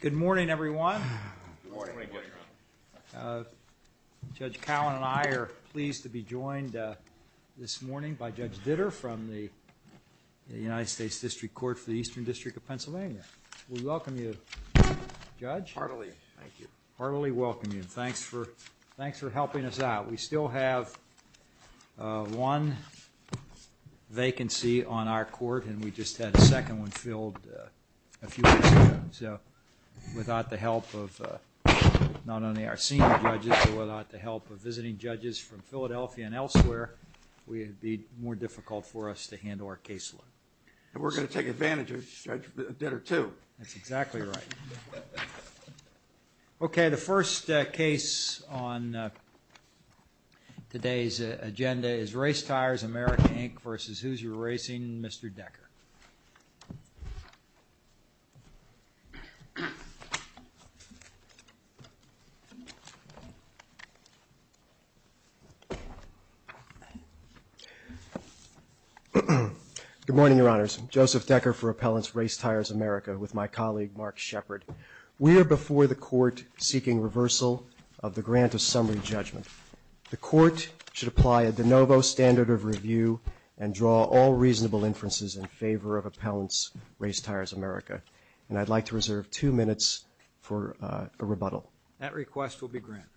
Good morning, everyone. Judge Cowan and I are pleased to be joined this morning by Judge Ditter from the United States District Court for the Eastern District of Pennsylvania. We welcome you, Judge. We heartily welcome you. Thanks for helping us out. We still have one vacancy on our court, and we just had a second one filled a few weeks ago. So without the help of not only our senior judges, but without the help of visiting judges from Philadelphia and elsewhere, it would be more difficult for us to handle our case load. And we're going to take advantage of Judge Ditter, too. That's exactly right. Okay, the first case on today's agenda is Race Tires America Inc v. Hoosier Racing. Mr. Decker. Good morning, Your Honors. Joseph Decker for Appellants Race Tires America with my colleague, Mark Shepard. We are before the court seeking reversal of the grant of summary judgment. The court should apply a de novo standard of review and draw all reasonable inferences in favor of Appellants Race Tires America. And I'd like to reserve two minutes for a rebuttal. That request will be granted.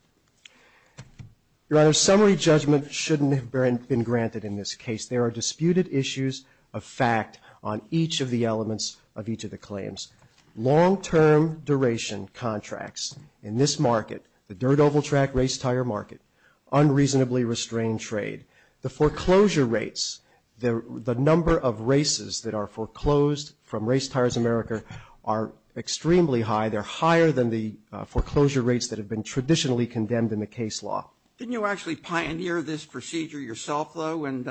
Your Honor, summary judgment shouldn't have been granted in this case. There are disputed issues of fact on each of the elements of each of the claims. Long-term duration contracts in this market, the dirt oval track race tire market, unreasonably restrained trade, the foreclosure rates, the number of races that are foreclosed from Race Tires America are extremely high. They're higher than the foreclosure rates that have been traditionally condemned in the case law. Didn't you actually pioneer this procedure yourself, though? And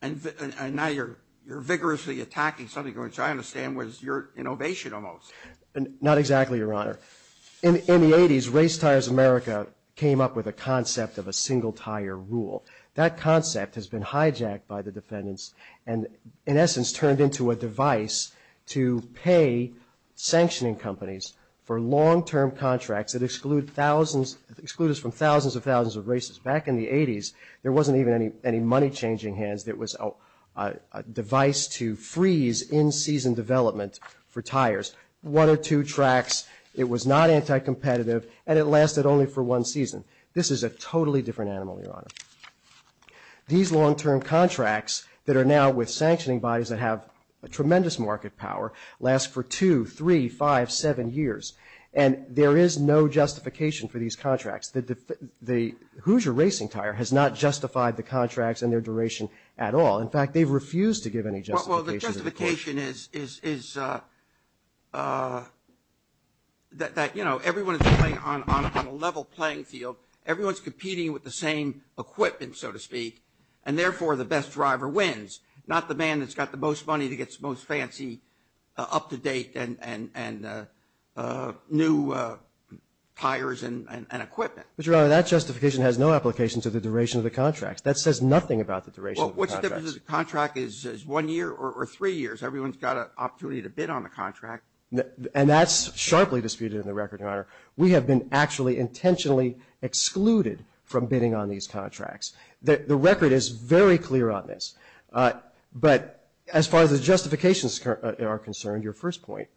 now you're vigorously attacking something which I understand was your innovation almost. Not exactly, Your Honor. In the 80s, Race Tires America came up with a concept of a single tire rule. That concept has been hijacked by the defendants and in essence turned into a device to pay sanctioning companies for long-term contracts that exclude thousands, exclude us from thousands and thousands of races. Back in the 80s, there wasn't even any money changing hands. It was a device to freeze in-season development for tires. One or two tracks, it was not anti-competitive and it lasted only for one season. This is a totally different animal, Your Honor. These long-term contracts that are now with sanctioning bodies that have a tremendous market power last for two, three, five, seven years and there is no justification for these contracts. The Hoosier Racing Tire has not justified the contracts and their duration at all. In fact, they've refused to give any justification. Well, the justification is that, you know, everyone is playing on a level playing field. Everyone is competing with the same equipment, so to speak, and therefore the best driver wins, not the man that's got the most money to get the most fancy up-to-date and new tires and equipment. But, Your Honor, that justification has no application to the duration of the contracts. That says nothing about the duration of the contracts. But what's the difference if the contract is one year or three years? Everyone's got an opportunity to bid on the contract. And that's sharply disputed in the record, Your Honor. We have been actually intentionally excluded from bidding on these contracts. The record is very clear on this. But as far as the justifications are concerned, your first point,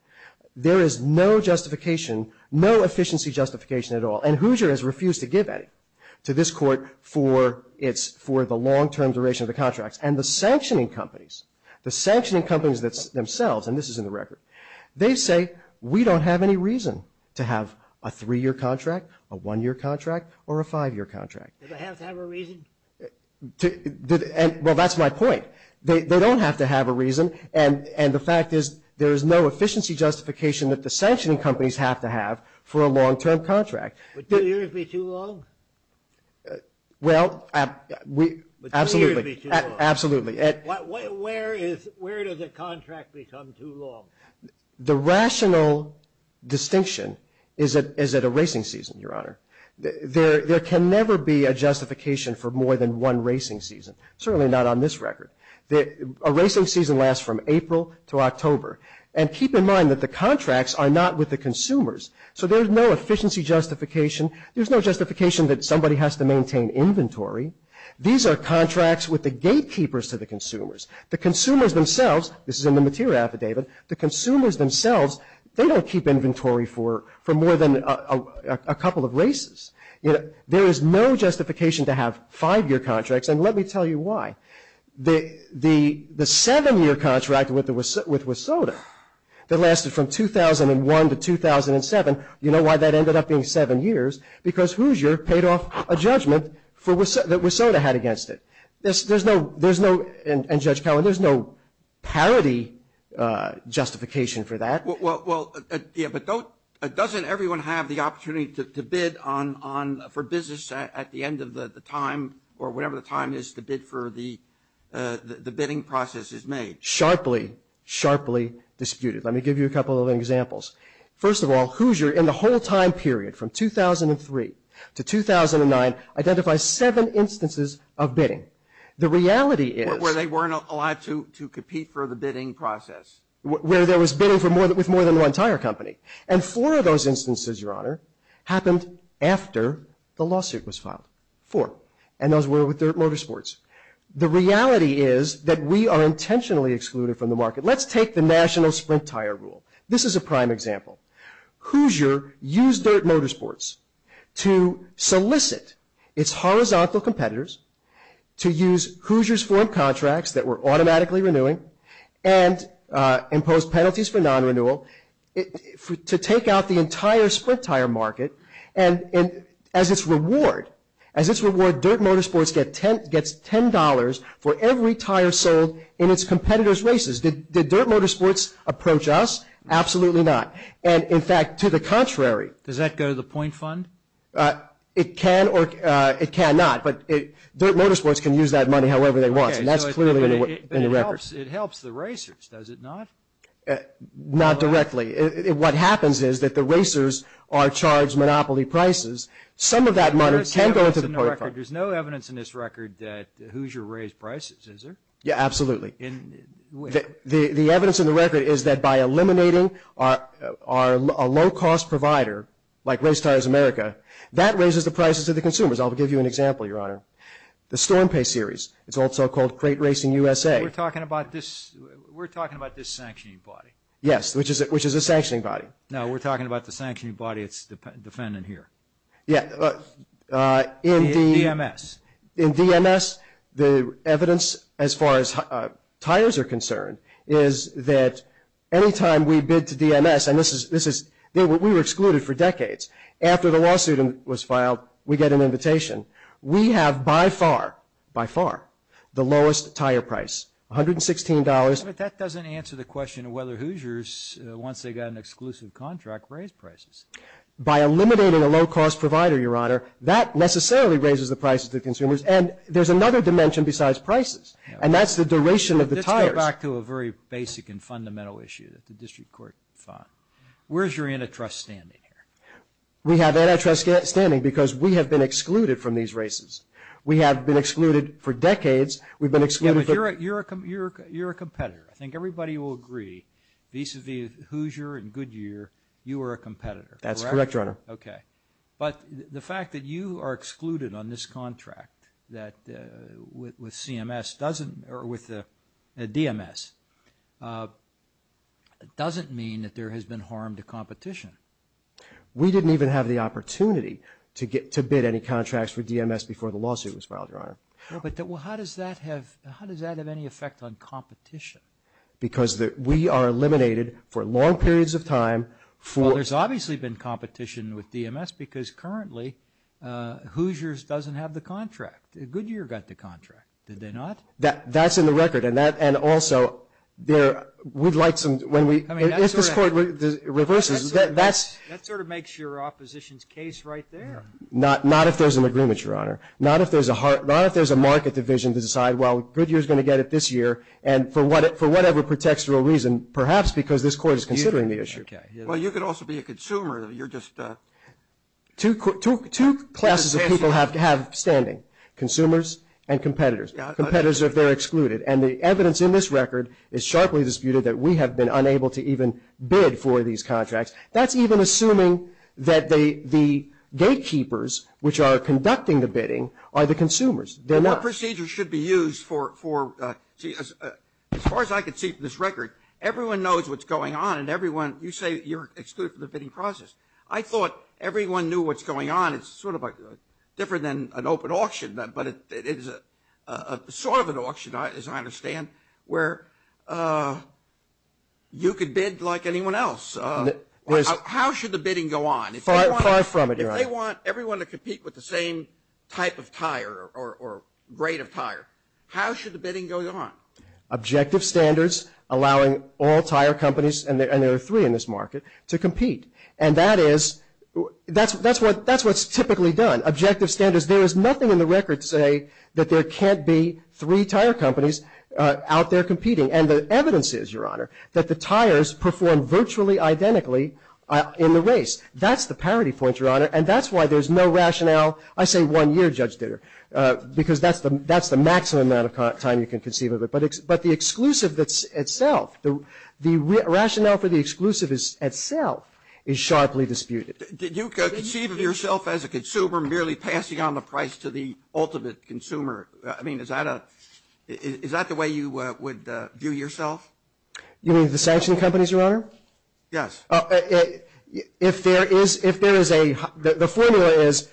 there is no justification, no efficiency justification at all. And Hoosier has refused to give any to this Court for the long-term duration of the contracts. And the sanctioning companies, the sanctioning companies themselves, and this is in the record, they say, we don't have any reason to have a three-year contract, a one-year contract, or a five-year contract. Do they have to have a reason? Well, that's my point. They don't have to have a reason. And the fact is there is no efficiency justification that the sanctioning companies have to have for a long-term contract. Would two years be too long? Well, absolutely. Where does a contract become too long? The rational distinction is at a racing season, Your Honor. There can never be a justification for more than one racing season. Certainly not on this record. A racing season lasts from April to October. And keep in mind that the contracts are not with the consumers. So there is no efficiency justification. There is no justification that somebody has to maintain inventory. These are contracts with the gatekeepers to the consumers. The consumers themselves, this is in the material affidavit, the consumers themselves, they don't keep inventory for more than a couple of races. There is no justification to have five-year contracts. And let me tell you why. The seven-year contract with WSOTA that lasted from 2001 to 2007, you know why that ended up being seven years? Because Hoosier paid off a judgment that WSOTA had against it. There's no, and Judge Cowan, there's no parity justification for that. Well, yeah, but doesn't everyone have the opportunity to bid for business at the end of the time or whenever the time is to bid for the bidding process is made? Sharply, sharply disputed. Let me give you a couple of examples. First of all, Hoosier, in the whole time period from 2003 to 2009, identifies seven instances of bidding. The reality is. Where they weren't allowed to compete for the bidding process. Where there was bidding with more than one tire company. And four of those instances, Your Honor, happened after the lawsuit was filed. Four. And those were with their motorsports. The reality is that we are intentionally excluded from the market. Let's take the national sprint tire rule. This is a prime example. Hoosier used Dirt Motorsports to solicit its horizontal competitors to use Hoosier's form contracts that were automatically renewing and impose penalties for non-renewal to take out the entire sprint tire market. And as its reward, Dirt Motorsports gets $10 for every tire sold in its competitors' races. Did Dirt Motorsports approach us? Absolutely not. And, in fact, to the contrary. Does that go to the point fund? It can or it cannot. But Dirt Motorsports can use that money however they want. And that's clearly in the record. It helps the racers, does it not? Not directly. What happens is that the racers are charged monopoly prices. Some of that money can go to the point fund. There's no evidence in this record that Hoosier raised prices, is there? Yeah, absolutely. The evidence in the record is that by eliminating a low-cost provider like Race Tires America, that raises the prices of the consumers. I'll give you an example, Your Honor. The StormPay series, it's also called Great Racing USA. We're talking about this sanctioning body. Yes, which is a sanctioning body. No, we're talking about the sanctioning body it's defending here. Yeah. In DMS. In DMS, the evidence as far as tires are concerned is that any time we bid to DMS, and we were excluded for decades, after the lawsuit was filed, we get an invitation. We have by far, by far, the lowest tire price, $116. But that doesn't answer the question of whether Hoosiers, once they got an exclusive contract, raised prices. By eliminating a low-cost provider, Your Honor, that necessarily raises the prices of the consumers, and there's another dimension besides prices, and that's the duration of the tires. Let's go back to a very basic and fundamental issue that the district court fought. Where's your antitrust standing here? We have antitrust standing because we have been excluded from these races. We have been excluded for decades. We've been excluded for – Yeah, but you're a competitor. I think everybody will agree, vis-à-vis Hoosier and Goodyear, you are a competitor. That's correct, Your Honor. Okay. But the fact that you are excluded on this contract with CMS doesn't – or with DMS, doesn't mean that there has been harm to competition. We didn't even have the opportunity to bid any contracts for DMS before the lawsuit was filed, Your Honor. Well, but how does that have any effect on competition? Because we are eliminated for long periods of time for – Well, there's obviously been competition with DMS because currently Hoosiers doesn't have the contract. Goodyear got the contract. Did they not? That's in the record, and that – and also, there – we'd like some – when we – if this court reverses, that's – That sort of makes your opposition's case right there. Not if there's an agreement, Your Honor. Not if there's a market division to decide, well, Goodyear's going to get it this year, and for whatever contextual reason, perhaps because this court is considering the issue. Well, you could also be a consumer. You're just – Two classes of people have standing, consumers and competitors. Competitors, if they're excluded. And the evidence in this record is sharply disputed that we have been unable to even bid for these contracts. That's even assuming that the gatekeepers, which are conducting the bidding, are the consumers. They're not. But what procedures should be used for – as far as I can see from this record, everyone knows what's going on, and everyone – you say you're excluded from the bidding process. I thought everyone knew what's going on. It's sort of different than an open auction, but it is sort of an auction, as I understand, where you could bid like anyone else. How should the bidding go on? Far from it, Your Honor. If they want everyone to compete with the same type of tire or grade of tire, how should the bidding go on? Objective standards, allowing all tire companies, and there are three in this market, to compete. And that is – that's what's typically done, objective standards. Because there is nothing in the record to say that there can't be three tire companies out there competing. And the evidence is, Your Honor, that the tires perform virtually identically in the race. That's the parity point, Your Honor, and that's why there's no rationale. I say one year, Judge Ditter, because that's the maximum amount of time you can conceive of it. But the exclusive itself, the rationale for the exclusive itself is sharply disputed. Did you conceive of yourself as a consumer merely passing on the price to the ultimate consumer? I mean, is that a – is that the way you would view yourself? You mean the sanction companies, Your Honor? Yes. If there is a – the formula is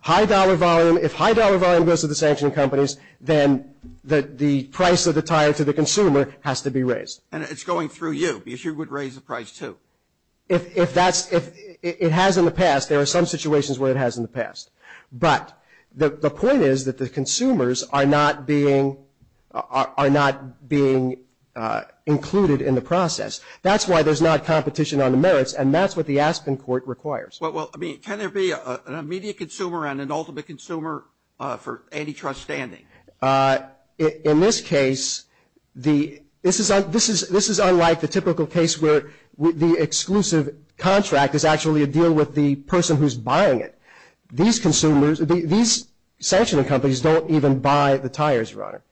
high dollar volume. If high dollar volume goes to the sanction companies, then the price of the tire to the consumer has to be raised. And it's going through you, because you would raise the price, too. If that's – if it has in the past, there are some situations where it has in the past. But the point is that the consumers are not being – are not being included in the process. That's why there's not competition on the merits, and that's what the Aspen court requires. Well, I mean, can there be an immediate consumer and an ultimate consumer for antitrust standing? In this case, the – this is unlike the typical case where the exclusive contract is actually a deal with the person who's buying it. These consumers – these sanction companies don't even buy the tires, Your Honor.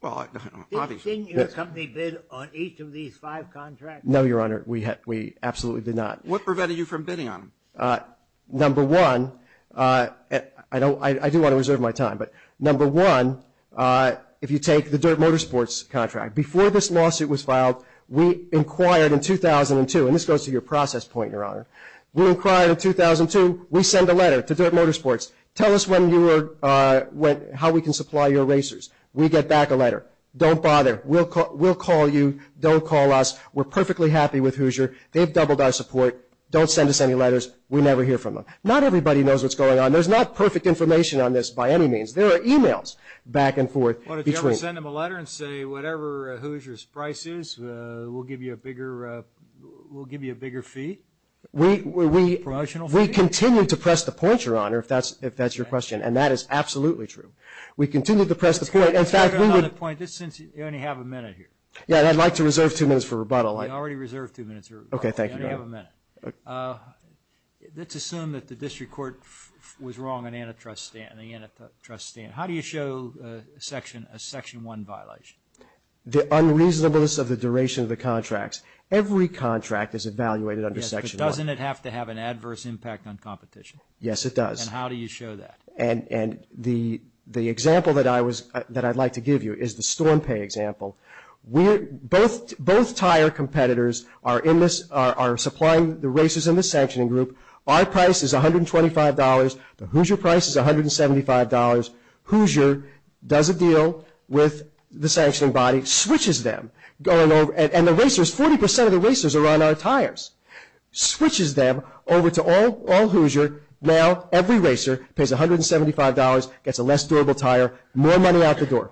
Well, obviously. Didn't your company bid on each of these five contracts? No, Your Honor. We absolutely did not. What prevented you from bidding on them? Number one – I don't – I do want to reserve my time, but number one, if you take the Dirt Motorsports contract. Before this lawsuit was filed, we inquired in 2002 – and this goes to your process point, Your Honor. We inquired in 2002. We sent a letter to Dirt Motorsports. Tell us when you were – how we can supply your racers. We get back a letter. Don't bother. We'll call you. Don't call us. We're perfectly happy with Hoosier. They've doubled our support. Don't send us any letters. We never hear from them. Not everybody knows what's going on. There's not perfect information on this by any means. There are e-mails back and forth between – Well, did you ever send them a letter and say, whatever Hoosier's price is, we'll give you a bigger – we'll give you a bigger fee? We – we – Promotional fee? We continue to press the point, Your Honor, if that's – if that's your question, and that is absolutely true. We continue to press the point. In fact, we would – Let me make another point, just since you only have a minute here. Yeah, and I'd like to reserve two minutes for rebuttal. We already reserved two minutes, Your Honor. Okay, thank you, Your Honor. You only have a minute. Let's assume that the district court was wrong on antitrust – on the antitrust stand. How do you show a section – a Section 1 violation? The unreasonableness of the duration of the contracts. Every contract is evaluated under Section 1. Yes, but doesn't it have to have an adverse impact on competition? Yes, it does. And how do you show that? And – and the – the example that I was – that I'd like to give you is the storm pay example. We're – both – both tire competitors are in this – are supplying the racers in the sanctioning group. Our price is $125. The Hoosier price is $175. Hoosier does a deal with the sanctioning body, switches them, going over – and the racers – 40 percent of the racers are on our tires. Switches them over to all – all Hoosier. Now every racer pays $175, gets a less durable tire, more money out the door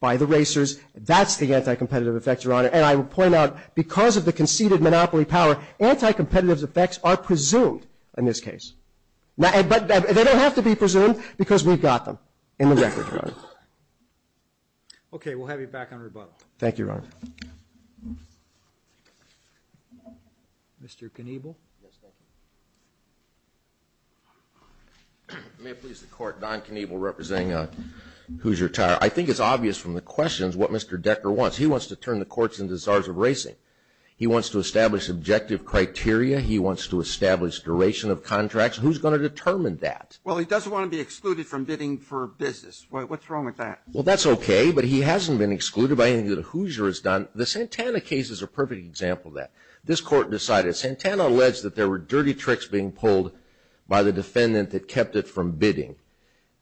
by the racers. That's the anti-competitive effect, Your Honor. And I would point out, because of the conceded monopoly power, anti-competitive effects are presumed in this case. Now – but they don't have to be presumed because we've got them in the record, Your Honor. Okay. We'll have you back on rebuttal. Thank you, Your Honor. Mr. Kniebel? Yes, thank you. May it please the Court, Don Kniebel representing Hoosier Tire. I think it's obvious from the questions what Mr. Decker wants. He wants to turn the courts into the Czars of Racing. He wants to establish objective criteria. He wants to establish duration of contracts. Who's going to determine that? Well, he doesn't want to be excluded from bidding for business. What's wrong with that? Well, that's okay, but he hasn't been excluded by anything that Hoosier has done. The Santana case is a perfect example of that. This Court decided – Santana alleged that there were dirty tricks being pulled by the defendant that kept it from bidding.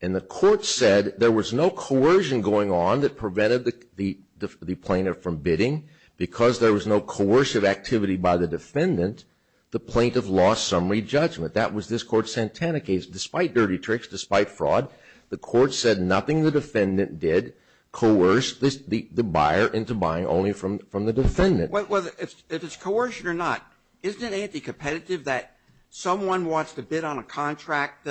And the Court said there was no coercion going on that prevented the plaintiff from bidding. Because there was no coercive activity by the defendant, the plaintiff lost summary judgment. That was this Court's Santana case. Despite dirty tricks, despite fraud, the Court said nothing the defendant did coerced the buyer into buying only from the defendant. Well, if it's coercion or not, isn't it anticompetitive that someone wants to bid on a contract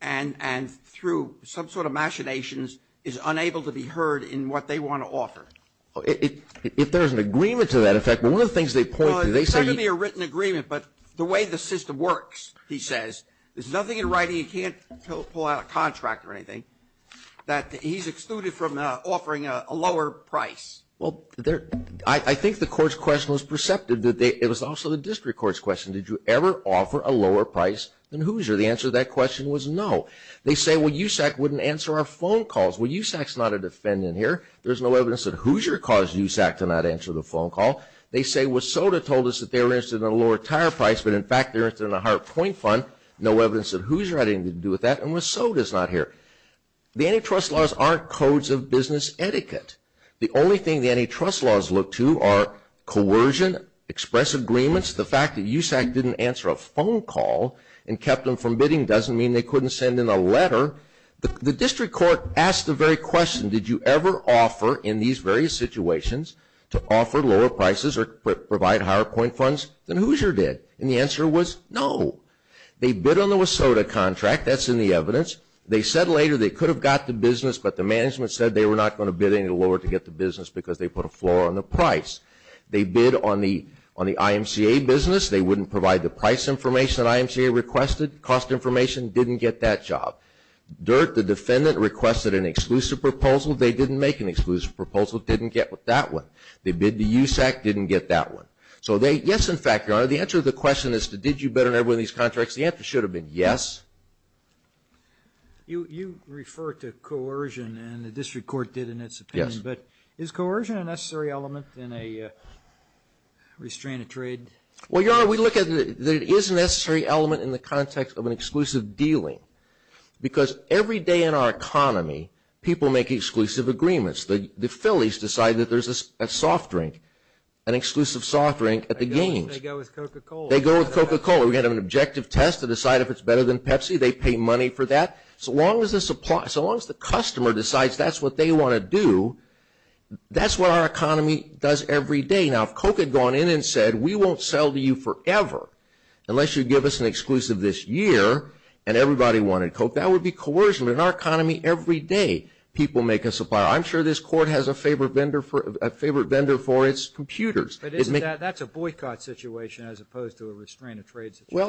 and through some sort of machinations is unable to be heard in what they want to offer? If there's an agreement to that effect, one of the things they point to, they say Well, it's not going to be a written agreement, but the way the system works, he says, there's nothing in writing you can't pull out a contract or anything that he's excluded from offering a lower price. Well, I think the Court's question was perceptive. It was also the District Court's question. Did you ever offer a lower price than Hoosier? The answer to that question was no. They say, Well, USAC wouldn't answer our phone calls. Well, USAC's not a defendant here. There's no evidence that Hoosier caused USAC to not answer the phone call. They say WSSOTA told us that they were interested in a lower tire price, but in fact they were interested in a higher point fund. No evidence that Hoosier had anything to do with that, and WSSOTA's not here. The antitrust laws aren't codes of business etiquette. The only thing the antitrust laws look to are coercion, express agreements. The fact that USAC didn't answer a phone call and kept them from bidding doesn't mean they couldn't send in a letter. The District Court asked the very question, Did you ever offer in these various situations to offer lower prices or provide higher point funds than Hoosier did? And the answer was no. They bid on the WSSOTA contract. That's in the evidence. They said later they could have got the business, but the management said they were not going to bid any lower to get the business because they put a floor on the price. They bid on the IMCA business. They wouldn't provide the price information that IMCA requested. Cost information, didn't get that job. DIRT, the defendant, requested an exclusive proposal. They didn't make an exclusive proposal, didn't get that one. They bid to USAC, didn't get that one. So yes, in fact, Your Honor, the answer to the question is, Did you bid on every one of these contracts? The answer should have been yes. You refer to coercion, and the District Court did in its opinion. Yes. But is coercion a necessary element in a restraint of trade? Well, Your Honor, we look at it. It is a necessary element in the context of an exclusive dealing because every day in our economy people make exclusive agreements. The fillies decide that there's a soft drink, an exclusive soft drink at the games. They go with Coca-Cola. They go with Coca-Cola. We have an objective test to decide if it's better than Pepsi. They pay money for that. So long as the customer decides that's what they want to do, that's what our economy does every day. Now, if Coke had gone in and said, We won't sell to you forever unless you give us an exclusive this year, and everybody wanted Coke, that would be coercion. But in our economy every day people make a supplier. I'm sure this Court has a favorite vendor for its computers. But that's a boycott situation as opposed to a restraint of trade situation.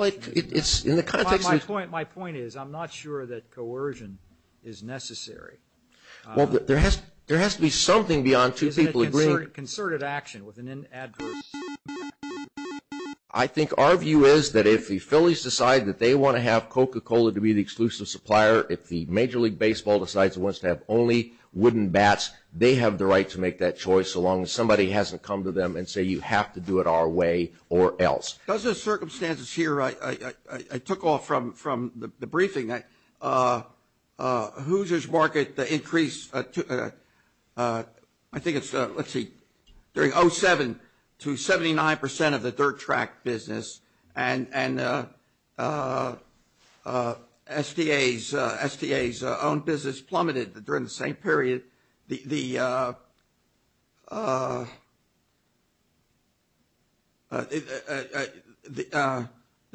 My point is I'm not sure that coercion is necessary. There has to be something beyond two people agreeing. Isn't it concerted action with an adverse impact? I think our view is that if the fillies decide that they want to have Coca-Cola to be the exclusive supplier, if the Major League Baseball decides it wants to have only wooden bats, they have the right to make that choice as long as somebody hasn't come to them and say, You have to do it our way or else. Those are circumstances here I took off from the briefing. Hoosiers market increased, I think it's, let's see, during 2007 to 79% of the dirt track business, and SDA's own business plummeted during the same period. The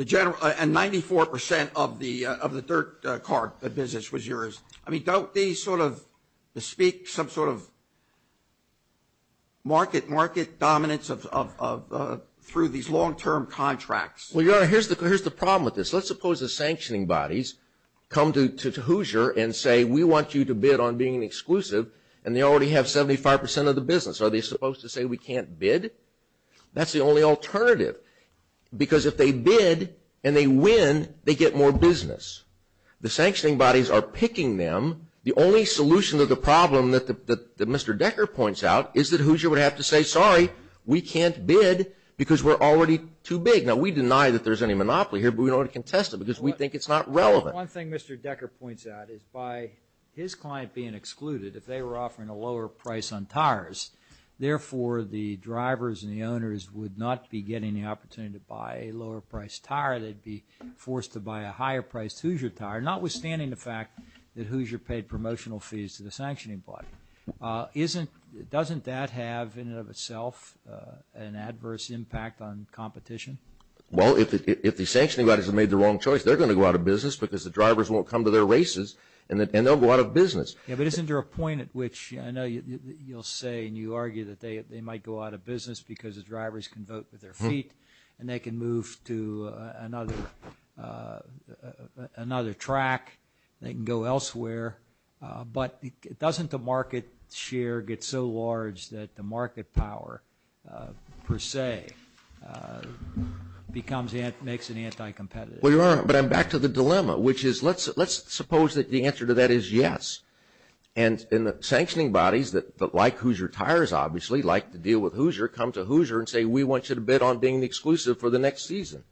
general, and 94% of the dirt car business was yours. I mean, don't these sort of speak some sort of market dominance through these long-term contracts? Well, Your Honor, here's the problem with this. Let's suppose the sanctioning bodies come to Hoosier and say, We want you to bid on being exclusive, and they already have 75% of the business. Are they supposed to say we can't bid? That's the only alternative because if they bid and they win, they get more business. The sanctioning bodies are picking them. The only solution to the problem that Mr. Decker points out is that Hoosier would have to say, Sorry, we can't bid because we're already too big. Now, we deny that there's any monopoly here, but we don't want to contest it because we think it's not relevant. One thing Mr. Decker points out is by his client being excluded, if they were offering a lower price on tires, therefore the drivers and the owners would not be getting the opportunity to buy a lower-priced tire. They'd be forced to buy a higher-priced Hoosier tire, notwithstanding the fact that Hoosier paid promotional fees to the sanctioning body. Doesn't that have, in and of itself, an adverse impact on competition? Well, if the sanctioning bodies have made the wrong choice, they're going to go out of business because the drivers won't come to their races and they'll go out of business. Yeah, but isn't there a point at which I know you'll say and you argue that they might go out of business because the drivers can vote with their feet and they can move to another track, they can go elsewhere, but doesn't the market share get so large that the market power, per se, makes it anti-competitive? Well, you're right, but I'm back to the dilemma, which is let's suppose that the answer to that is yes. And the sanctioning bodies that like Hoosier tires, obviously, like to deal with Hoosier, come to Hoosier and say, we want you to bid on being exclusive for the next season.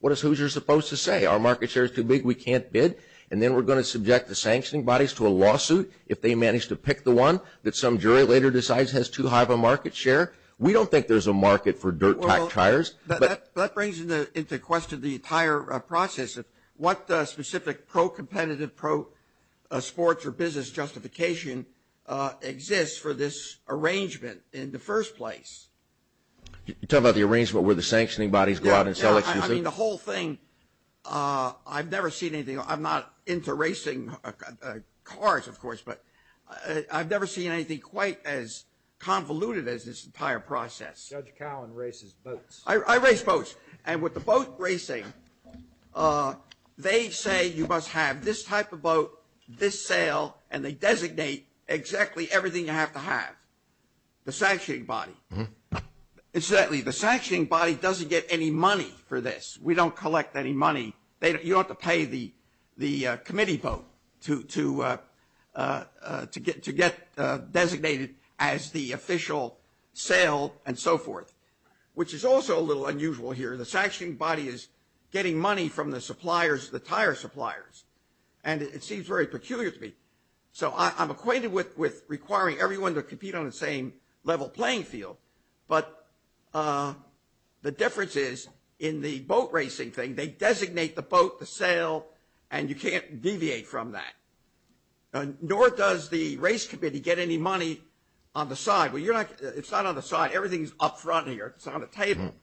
What is Hoosier supposed to say? Our market share is too big, we can't bid? And then we're going to subject the sanctioning bodies to a lawsuit if they manage to pick the one that some jury later decides has too high of a market share? We don't think there's a market for dirt-tack tires. That brings into question the entire process of what specific pro-competitive, pro-sports or business justification exists for this arrangement in the first place. You're talking about the arrangement where the sanctioning bodies go out and sell exclusive? Yeah, I mean, the whole thing, I've never seen anything, I'm not into racing cars, of course, but I've never seen anything quite as convoluted as this entire process. Judge Cowen races boats. I race boats. And with the boat racing, they say you must have this type of boat, this sale, and they designate exactly everything you have to have, the sanctioning body. Incidentally, the sanctioning body doesn't get any money for this. We don't collect any money. You don't have to pay the committee boat to get designated as the official sale and so forth, which is also a little unusual here. The sanctioning body is getting money from the suppliers, the tire suppliers, and it seems very peculiar to me. So I'm acquainted with requiring everyone to compete on the same level playing field, but the difference is in the boat racing thing, they designate the boat, the sale, and you can't deviate from that. Nor does the race committee get any money on the side. It's not on the side. Everything is up front here. It's on the table.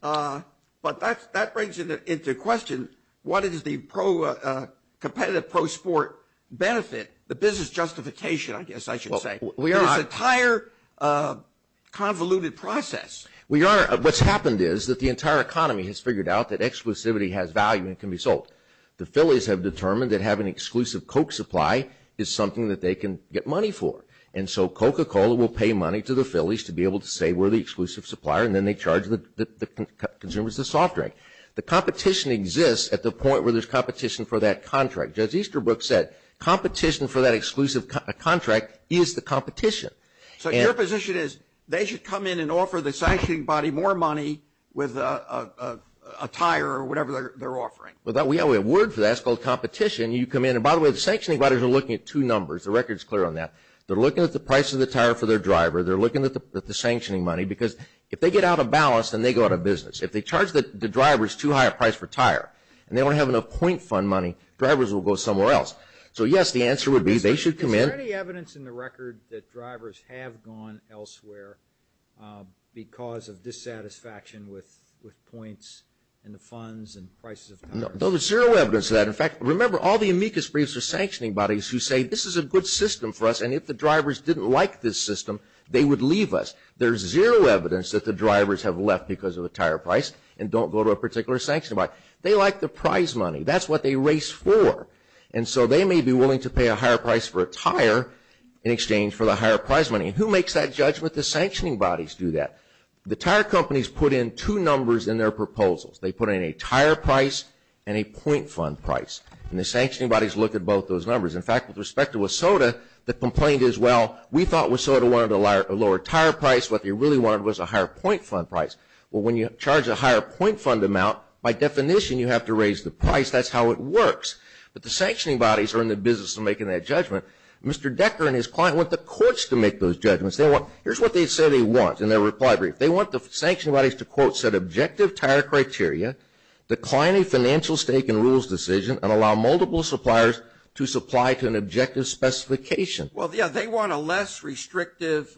But that brings into question what is the competitive pro-sport benefit, the business justification, I guess I should say, this entire convoluted process. Your Honor, what's happened is that the entire economy has figured out that exclusivity has value and can be sold. The Phillies have determined that having an exclusive Coke supply is something that they can get money for. And so Coca-Cola will pay money to the Phillies to be able to say we're the exclusive supplier, and then they charge the consumers the soft drink. The competition exists at the point where there's competition for that contract. Judge Easterbrook said competition for that exclusive contract is the competition. So your position is they should come in and offer the sanctioning body more money with a tire or whatever they're offering. We have a word for that. It's called competition. You come in, and by the way, the sanctioning bodies are looking at two numbers. The record is clear on that. They're looking at the price of the tire for their driver. They're looking at the sanctioning money because if they get out of balance, then they go out of business. If they charge the drivers too high a price for tire, and they don't have enough point fund money, drivers will go somewhere else. So, yes, the answer would be they should come in. Is there any evidence in the record that drivers have gone elsewhere because of dissatisfaction with points and the funds and prices of tires? No, there's zero evidence of that. In fact, remember, all the amicus briefs are sanctioning bodies who say this is a good system for us, and if the drivers didn't like this system, they would leave us. There's zero evidence that the drivers have left because of the tire price and don't go to a particular sanctioning body. They like the prize money. That's what they race for. And so they may be willing to pay a higher price for a tire in exchange for the higher prize money. And who makes that judgment? The sanctioning bodies do that. The tire companies put in two numbers in their proposals. They put in a tire price and a point fund price, and the sanctioning bodies look at both those numbers. In fact, with respect to WSOTA, the complaint is, well, we thought WSOTA wanted a lower tire price. What they really wanted was a higher point fund price. Well, when you charge a higher point fund amount, by definition, you have to raise the price. That's how it works. But the sanctioning bodies are in the business of making that judgment. Mr. Decker and his client want the courts to make those judgments. Here's what they say they want in their reply brief. They want the sanctioning bodies to, quote, set objective tire criteria, decline a financial stake in rules decision, and allow multiple suppliers to supply to an objective specification. Well, yeah, they want a less restrictive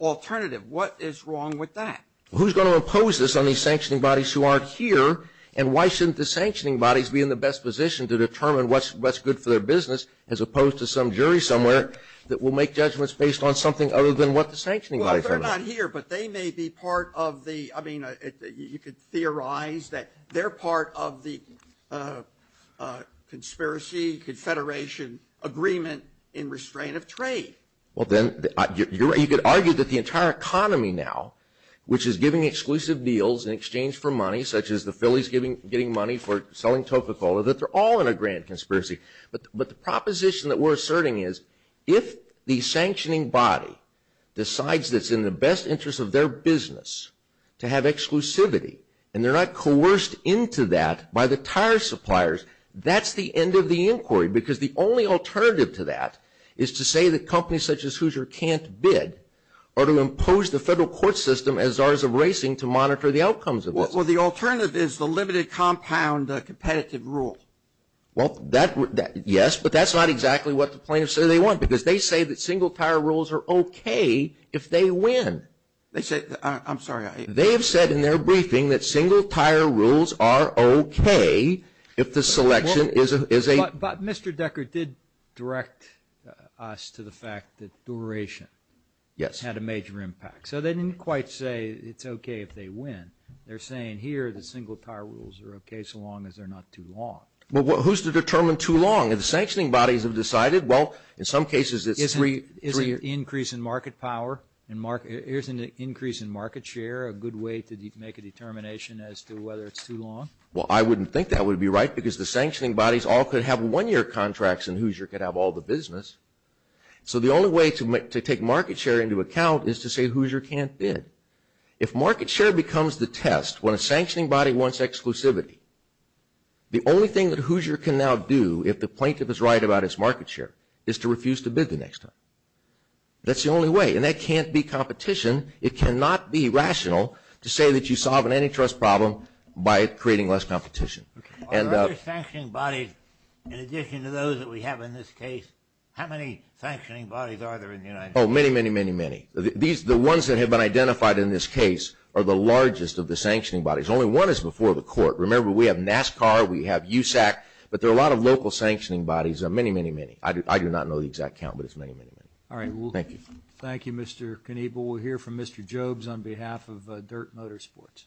alternative. What is wrong with that? Well, who's going to impose this on these sanctioning bodies who aren't here, and why shouldn't the sanctioning bodies be in the best position to determine what's good for their business as opposed to some jury somewhere that will make judgments based on something other than what the sanctioning bodies are doing? Well, they're not here, but they may be part of the, I mean, you could theorize that they're part of the conspiracy confederation agreement in restraint of trade. Well, then, you could argue that the entire economy now, which is giving exclusive deals in exchange for money, such as the Phillies getting money for selling Toca-Cola, that they're all in a grand conspiracy. But the proposition that we're asserting is if the sanctioning body decides that it's in the best interest of their business to have exclusivity, and they're not coerced into that by the tire suppliers, that's the end of the inquiry, because the only alternative to that is to say that companies such as Hoosier can't bid or to impose the federal court system as ours of racing to monitor the outcomes of this. Well, the alternative is the limited compound competitive rule. Well, yes, but that's not exactly what the plaintiffs say they want, because they say that single-tire rules are okay if they win. They say, I'm sorry. They have said in their briefing that single-tire rules are okay if the selection is a... But Mr. Decker did direct us to the fact that duration. Yes. Had a major impact. So they didn't quite say it's okay if they win. They're saying here that single-tire rules are okay so long as they're not too long. Well, who's to determine too long? If the sanctioning bodies have decided, well, in some cases it's three... Isn't an increase in market share a good way to make a determination as to whether it's too long? Well, I wouldn't think that would be right, because the sanctioning bodies all could have one-year contracts and Hoosier could have all the business. So the only way to take market share into account is to say Hoosier can't bid. If market share becomes the test when a sanctioning body wants exclusivity, the only thing that Hoosier can now do if the plaintiff is right about its market share is to refuse to bid the next time. That's the only way, and that can't be competition. It cannot be rational to say that you solve an antitrust problem by creating less competition. Are there sanctioning bodies in addition to those that we have in this case? How many sanctioning bodies are there in the United States? Oh, many, many, many, many. The ones that have been identified in this case are the largest of the sanctioning bodies. Only one is before the court. Remember, we have NASCAR, we have USAC, but there are a lot of local sanctioning bodies, many, many, many. I do not know the exact count, but it's many, many, many. Thank you. Thank you, Mr. Kniebel. We'll hear from Mr. Jobes on behalf of Dirt Motorsports.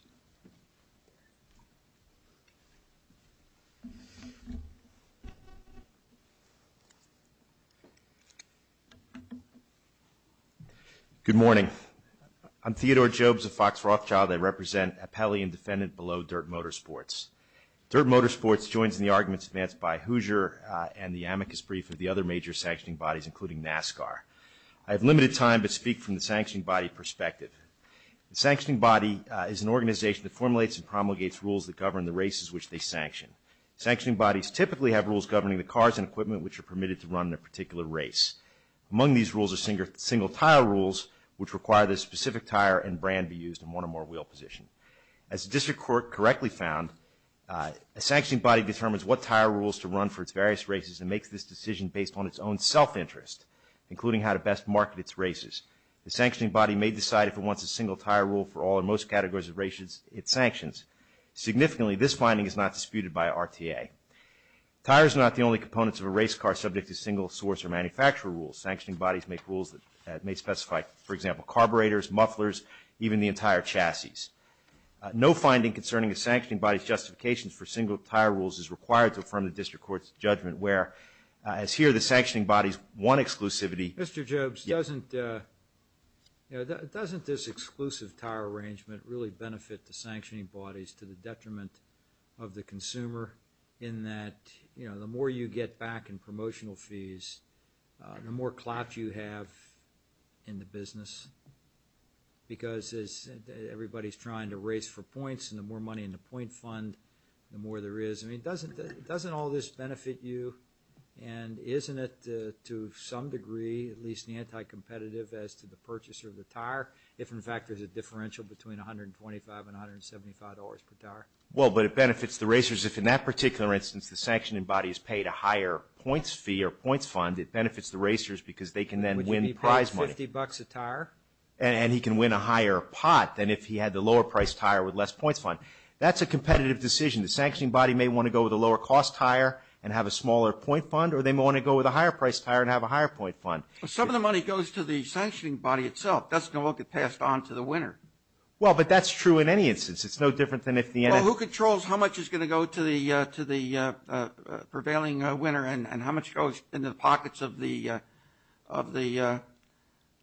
Good morning. I'm Theodore Jobes of Fox Rothschild. I represent Appellee and Defendant Below Dirt Motorsports. Dirt Motorsports joins in the arguments advanced by Hoosier and the amicus brief of the other major sanctioning bodies, including NASCAR. I have limited time to speak from the sanctioning body perspective. The sanctioning body is an organization that formulates and promulgates rules that govern the races which they sanction. Sanctioning bodies typically have rules governing the cars and equipment which are permitted to run in a particular race. Among these rules are single tire rules, which require that a specific tire and brand be used in one or more wheel positions. As the district court correctly found, a sanctioning body determines what tire rules to run for its various races and makes this decision based on its own self-interest, including how to best market its races. The sanctioning body may decide if it wants a single tire rule for all or most categories of races it sanctions. Significantly, this finding is not disputed by RTA. Tires are not the only components of a race car subject to single source or manufacturer rules. Sanctioning bodies make rules that may specify, for example, carburetors, mufflers, even the entire chassis. No finding concerning a sanctioning body's justification for single tire rules is required to affirm the district court's judgment, where, as here, the sanctioning body's one exclusivity... Mr. Jobes, doesn't this exclusive tire arrangement really benefit the sanctioning bodies to the detriment of the consumer in that the more you get back in promotional fees, the more clout you have in the business? Because everybody's trying to race for points, and the more money in the point fund, the more there is. I mean, doesn't all this benefit you? And isn't it, to some degree, at least anti-competitive as to the purchaser of the tire if, in fact, there's a differential between $125 and $175 per tire? Well, but it benefits the racers if, in that particular instance, the sanctioning body is paid a higher points fee or points fund. It benefits the racers because they can then win prize money. Would you be paying $50 a tire? And he can win a higher pot than if he had the lower-priced tire with less points fund. That's a competitive decision. The sanctioning body may want to go with a lower-cost tire and have a smaller point fund, or they may want to go with a higher-priced tire and have a higher point fund. Well, some of the money goes to the sanctioning body itself. That's going to all get passed on to the winner. Well, but that's true in any instance. It's no different than if the NRA… Well, who controls how much is going to go to the prevailing winner and how much goes into the pockets of the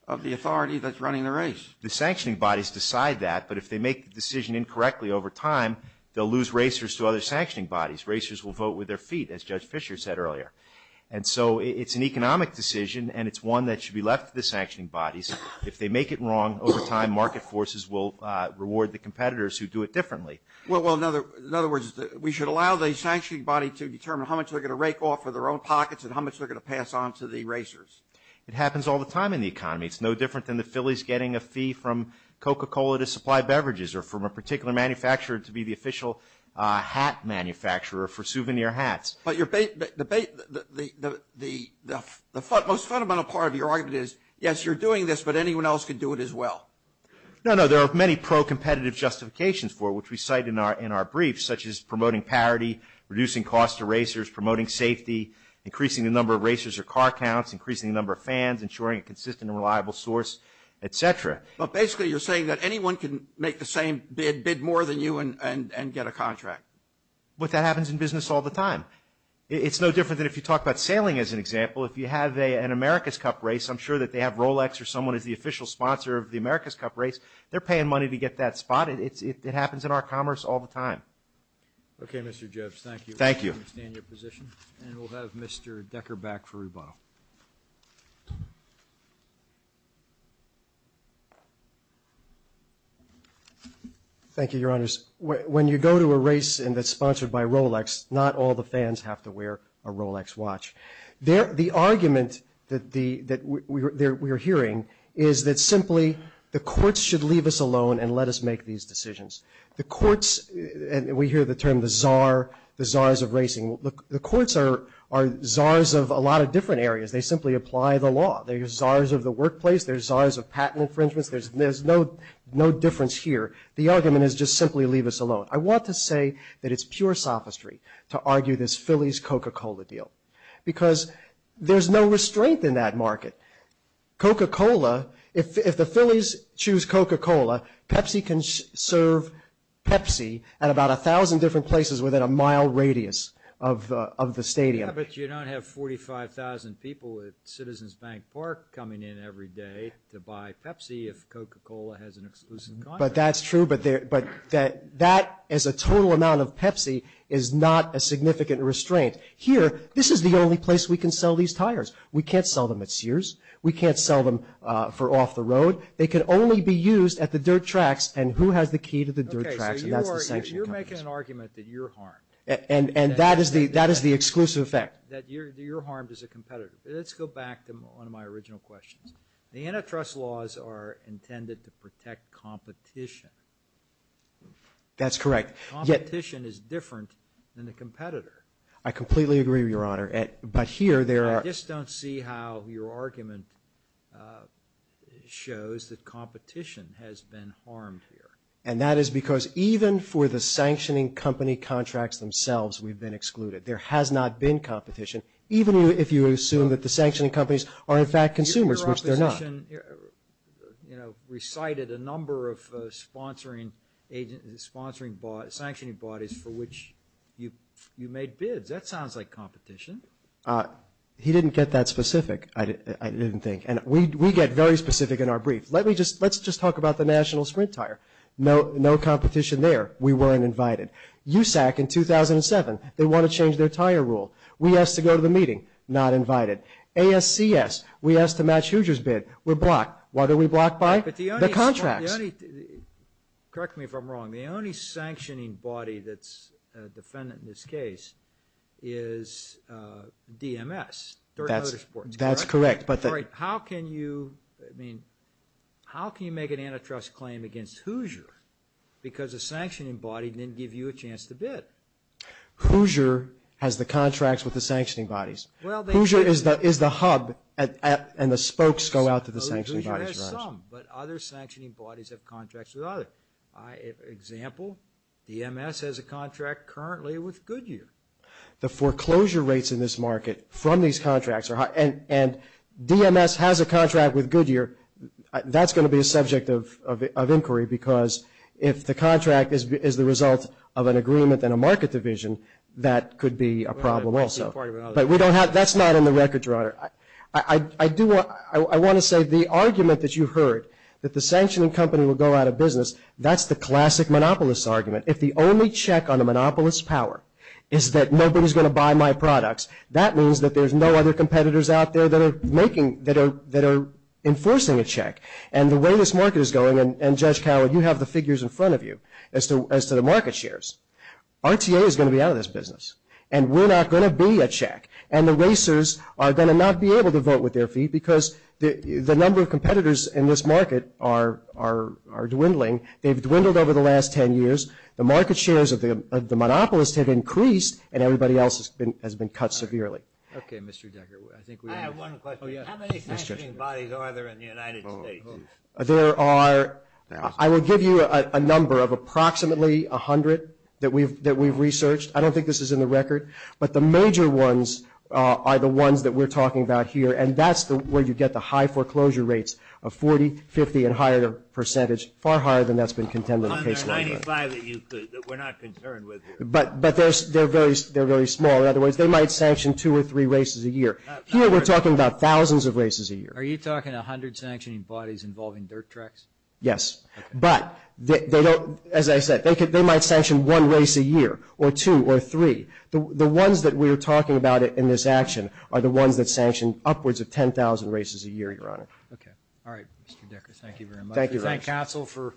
authority that's running the race? The sanctioning bodies decide that, but if they make the decision incorrectly over time, they'll lose racers to other sanctioning bodies. Racers will vote with their feet, as Judge Fischer said earlier. And so it's an economic decision, and it's one that should be left to the sanctioning bodies. If they make it wrong over time, market forces will reward the competitors who do it differently. Well, in other words, we should allow the sanctioning body to determine how much they're going to rake off of their own pockets and how much they're going to pass on to the racers. It happens all the time in the economy. It's no different than the Phillies getting a fee from Coca-Cola to supply beverages or from a particular manufacturer to be the official hat manufacturer for souvenir hats. But the most fundamental part of your argument is, yes, you're doing this, but anyone else could do it as well. No, no. There are many pro-competitive justifications for it, which we cite in our brief, such as promoting parity, reducing cost to racers, promoting safety, increasing the number of racers or car counts, increasing the number of fans, ensuring a consistent and reliable source, et cetera. But basically you're saying that anyone can make the same bid, bid more than you, and get a contract. But that happens in business all the time. It's no different than if you talk about sailing as an example. If you have an America's Cup race, I'm sure that they have Rolex or someone is the official sponsor of the America's Cup race. They're paying money to get that spot. It happens in our commerce all the time. Okay, Mr. Gibbs, thank you. Thank you. I understand your position. And we'll have Mr. Decker back for rebuttal. Thank you, Your Honors. When you go to a race and it's sponsored by Rolex, not all the fans have to wear a Rolex watch. The argument that we are hearing is that simply the courts should leave us alone and let us make these decisions. The courts, and we hear the term the czar, the czars of racing. The courts are czars of a lot of different areas. They simply apply the law. They're czars of the workplace. They're czars of patent infringements. There's no difference here. The argument is just simply leave us alone. I want to say that it's pure sophistry to argue this Phillies Coca-Cola deal because there's no restraint in that market. Coca-Cola, if the Phillies choose Coca-Cola, Pepsi can serve Pepsi at about 1,000 different places within a mile radius of the stadium. Yeah, but you don't have 45,000 people at Citizens Bank Park coming in every day to buy Pepsi if Coca-Cola has an exclusive contract. But that's true, but that as a total amount of Pepsi is not a significant restraint. Here, this is the only place we can sell these tires. We can't sell them at Sears. We can't sell them for off the road. They can only be used at the dirt tracks. And who has the key to the dirt tracks? And that's the sanction companies. Okay, so you're making an argument that you're harmed. And that is the exclusive effect. That you're harmed as a competitor. Let's go back to one of my original questions. The antitrust laws are intended to protect competition. That's correct. Competition is different than the competitor. I completely agree, Your Honor. But here there are. I just don't see how your argument shows that competition has been harmed here. And that is because even for the sanctioning company contracts themselves, we've been excluded. There has not been competition. Even if you assume that the sanctioning companies are, in fact, consumers, which they're not. Your opposition, you know, recited a number of sponsoring bodies, sanctioning bodies for which you made bids. That sounds like competition. He didn't get that specific, I didn't think. And we get very specific in our brief. Let's just talk about the National Sprint Tire. No competition there. We weren't invited. USAC in 2007, they want to change their tire rule. We asked to go to the meeting. Not invited. ASCS, we asked to match Hoosier's bid. We're blocked. Why are we blocked by? The contracts. Correct me if I'm wrong. The only sanctioning body that's a defendant in this case is DMS. That's correct. How can you make an antitrust claim against Hoosier because a sanctioning body didn't give you a chance to bid? Hoosier has the contracts with the sanctioning bodies. Hoosier is the hub and the spokes go out to the sanctioning bodies. Hoosier has some, but other sanctioning bodies have contracts with others. Example, DMS has a contract currently with Goodyear. The foreclosure rates in this market from these contracts are high, and DMS has a contract with Goodyear, that's going to be a subject of inquiry because if the contract is the result of an agreement in a market division, that could be a problem also. But that's not in the record, Your Honor. I want to say the argument that you heard, that the sanctioning company will go out of business, that's the classic monopolist argument. If the only check on a monopolist's power is that nobody's going to buy my products, that means that there's no other competitors out there that are enforcing a check. And the way this market is going, and Judge Cowley, you have the figures in front of you as to the market shares. RTA is going to be out of this business, and we're not going to be a check. And the racers are going to not be able to vote with their feet because the number of competitors in this market are dwindling. They've dwindled over the last ten years. The market shares of the monopolist have increased, and everybody else has been cut severely. Okay, Mr. Decker. I have one question. How many sanctioning bodies are there in the United States? There are, I will give you a number of approximately 100 that we've researched. I don't think this is in the record. But the major ones are the ones that we're talking about here, and that's where you get the high foreclosure rates of 40, 50, and higher percentage, far higher than that's been contended in case law. 195 that we're not concerned with here. But they're very small. In other words, they might sanction two or three races a year. Here we're talking about thousands of races a year. Are you talking 100 sanctioning bodies involving dirt tracks? Yes. But, as I said, they might sanction one race a year or two or three. The ones that we're talking about in this action are the ones that sanction upwards of 10,000 races a year, Your Honor. Okay. All right, Mr. Decker. Thank you very much. Thank you, Your Honor. Thank counsel for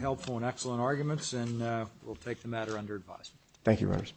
helpful and excellent arguments, and we'll take the matter under advisement. Thank you, Your Honors.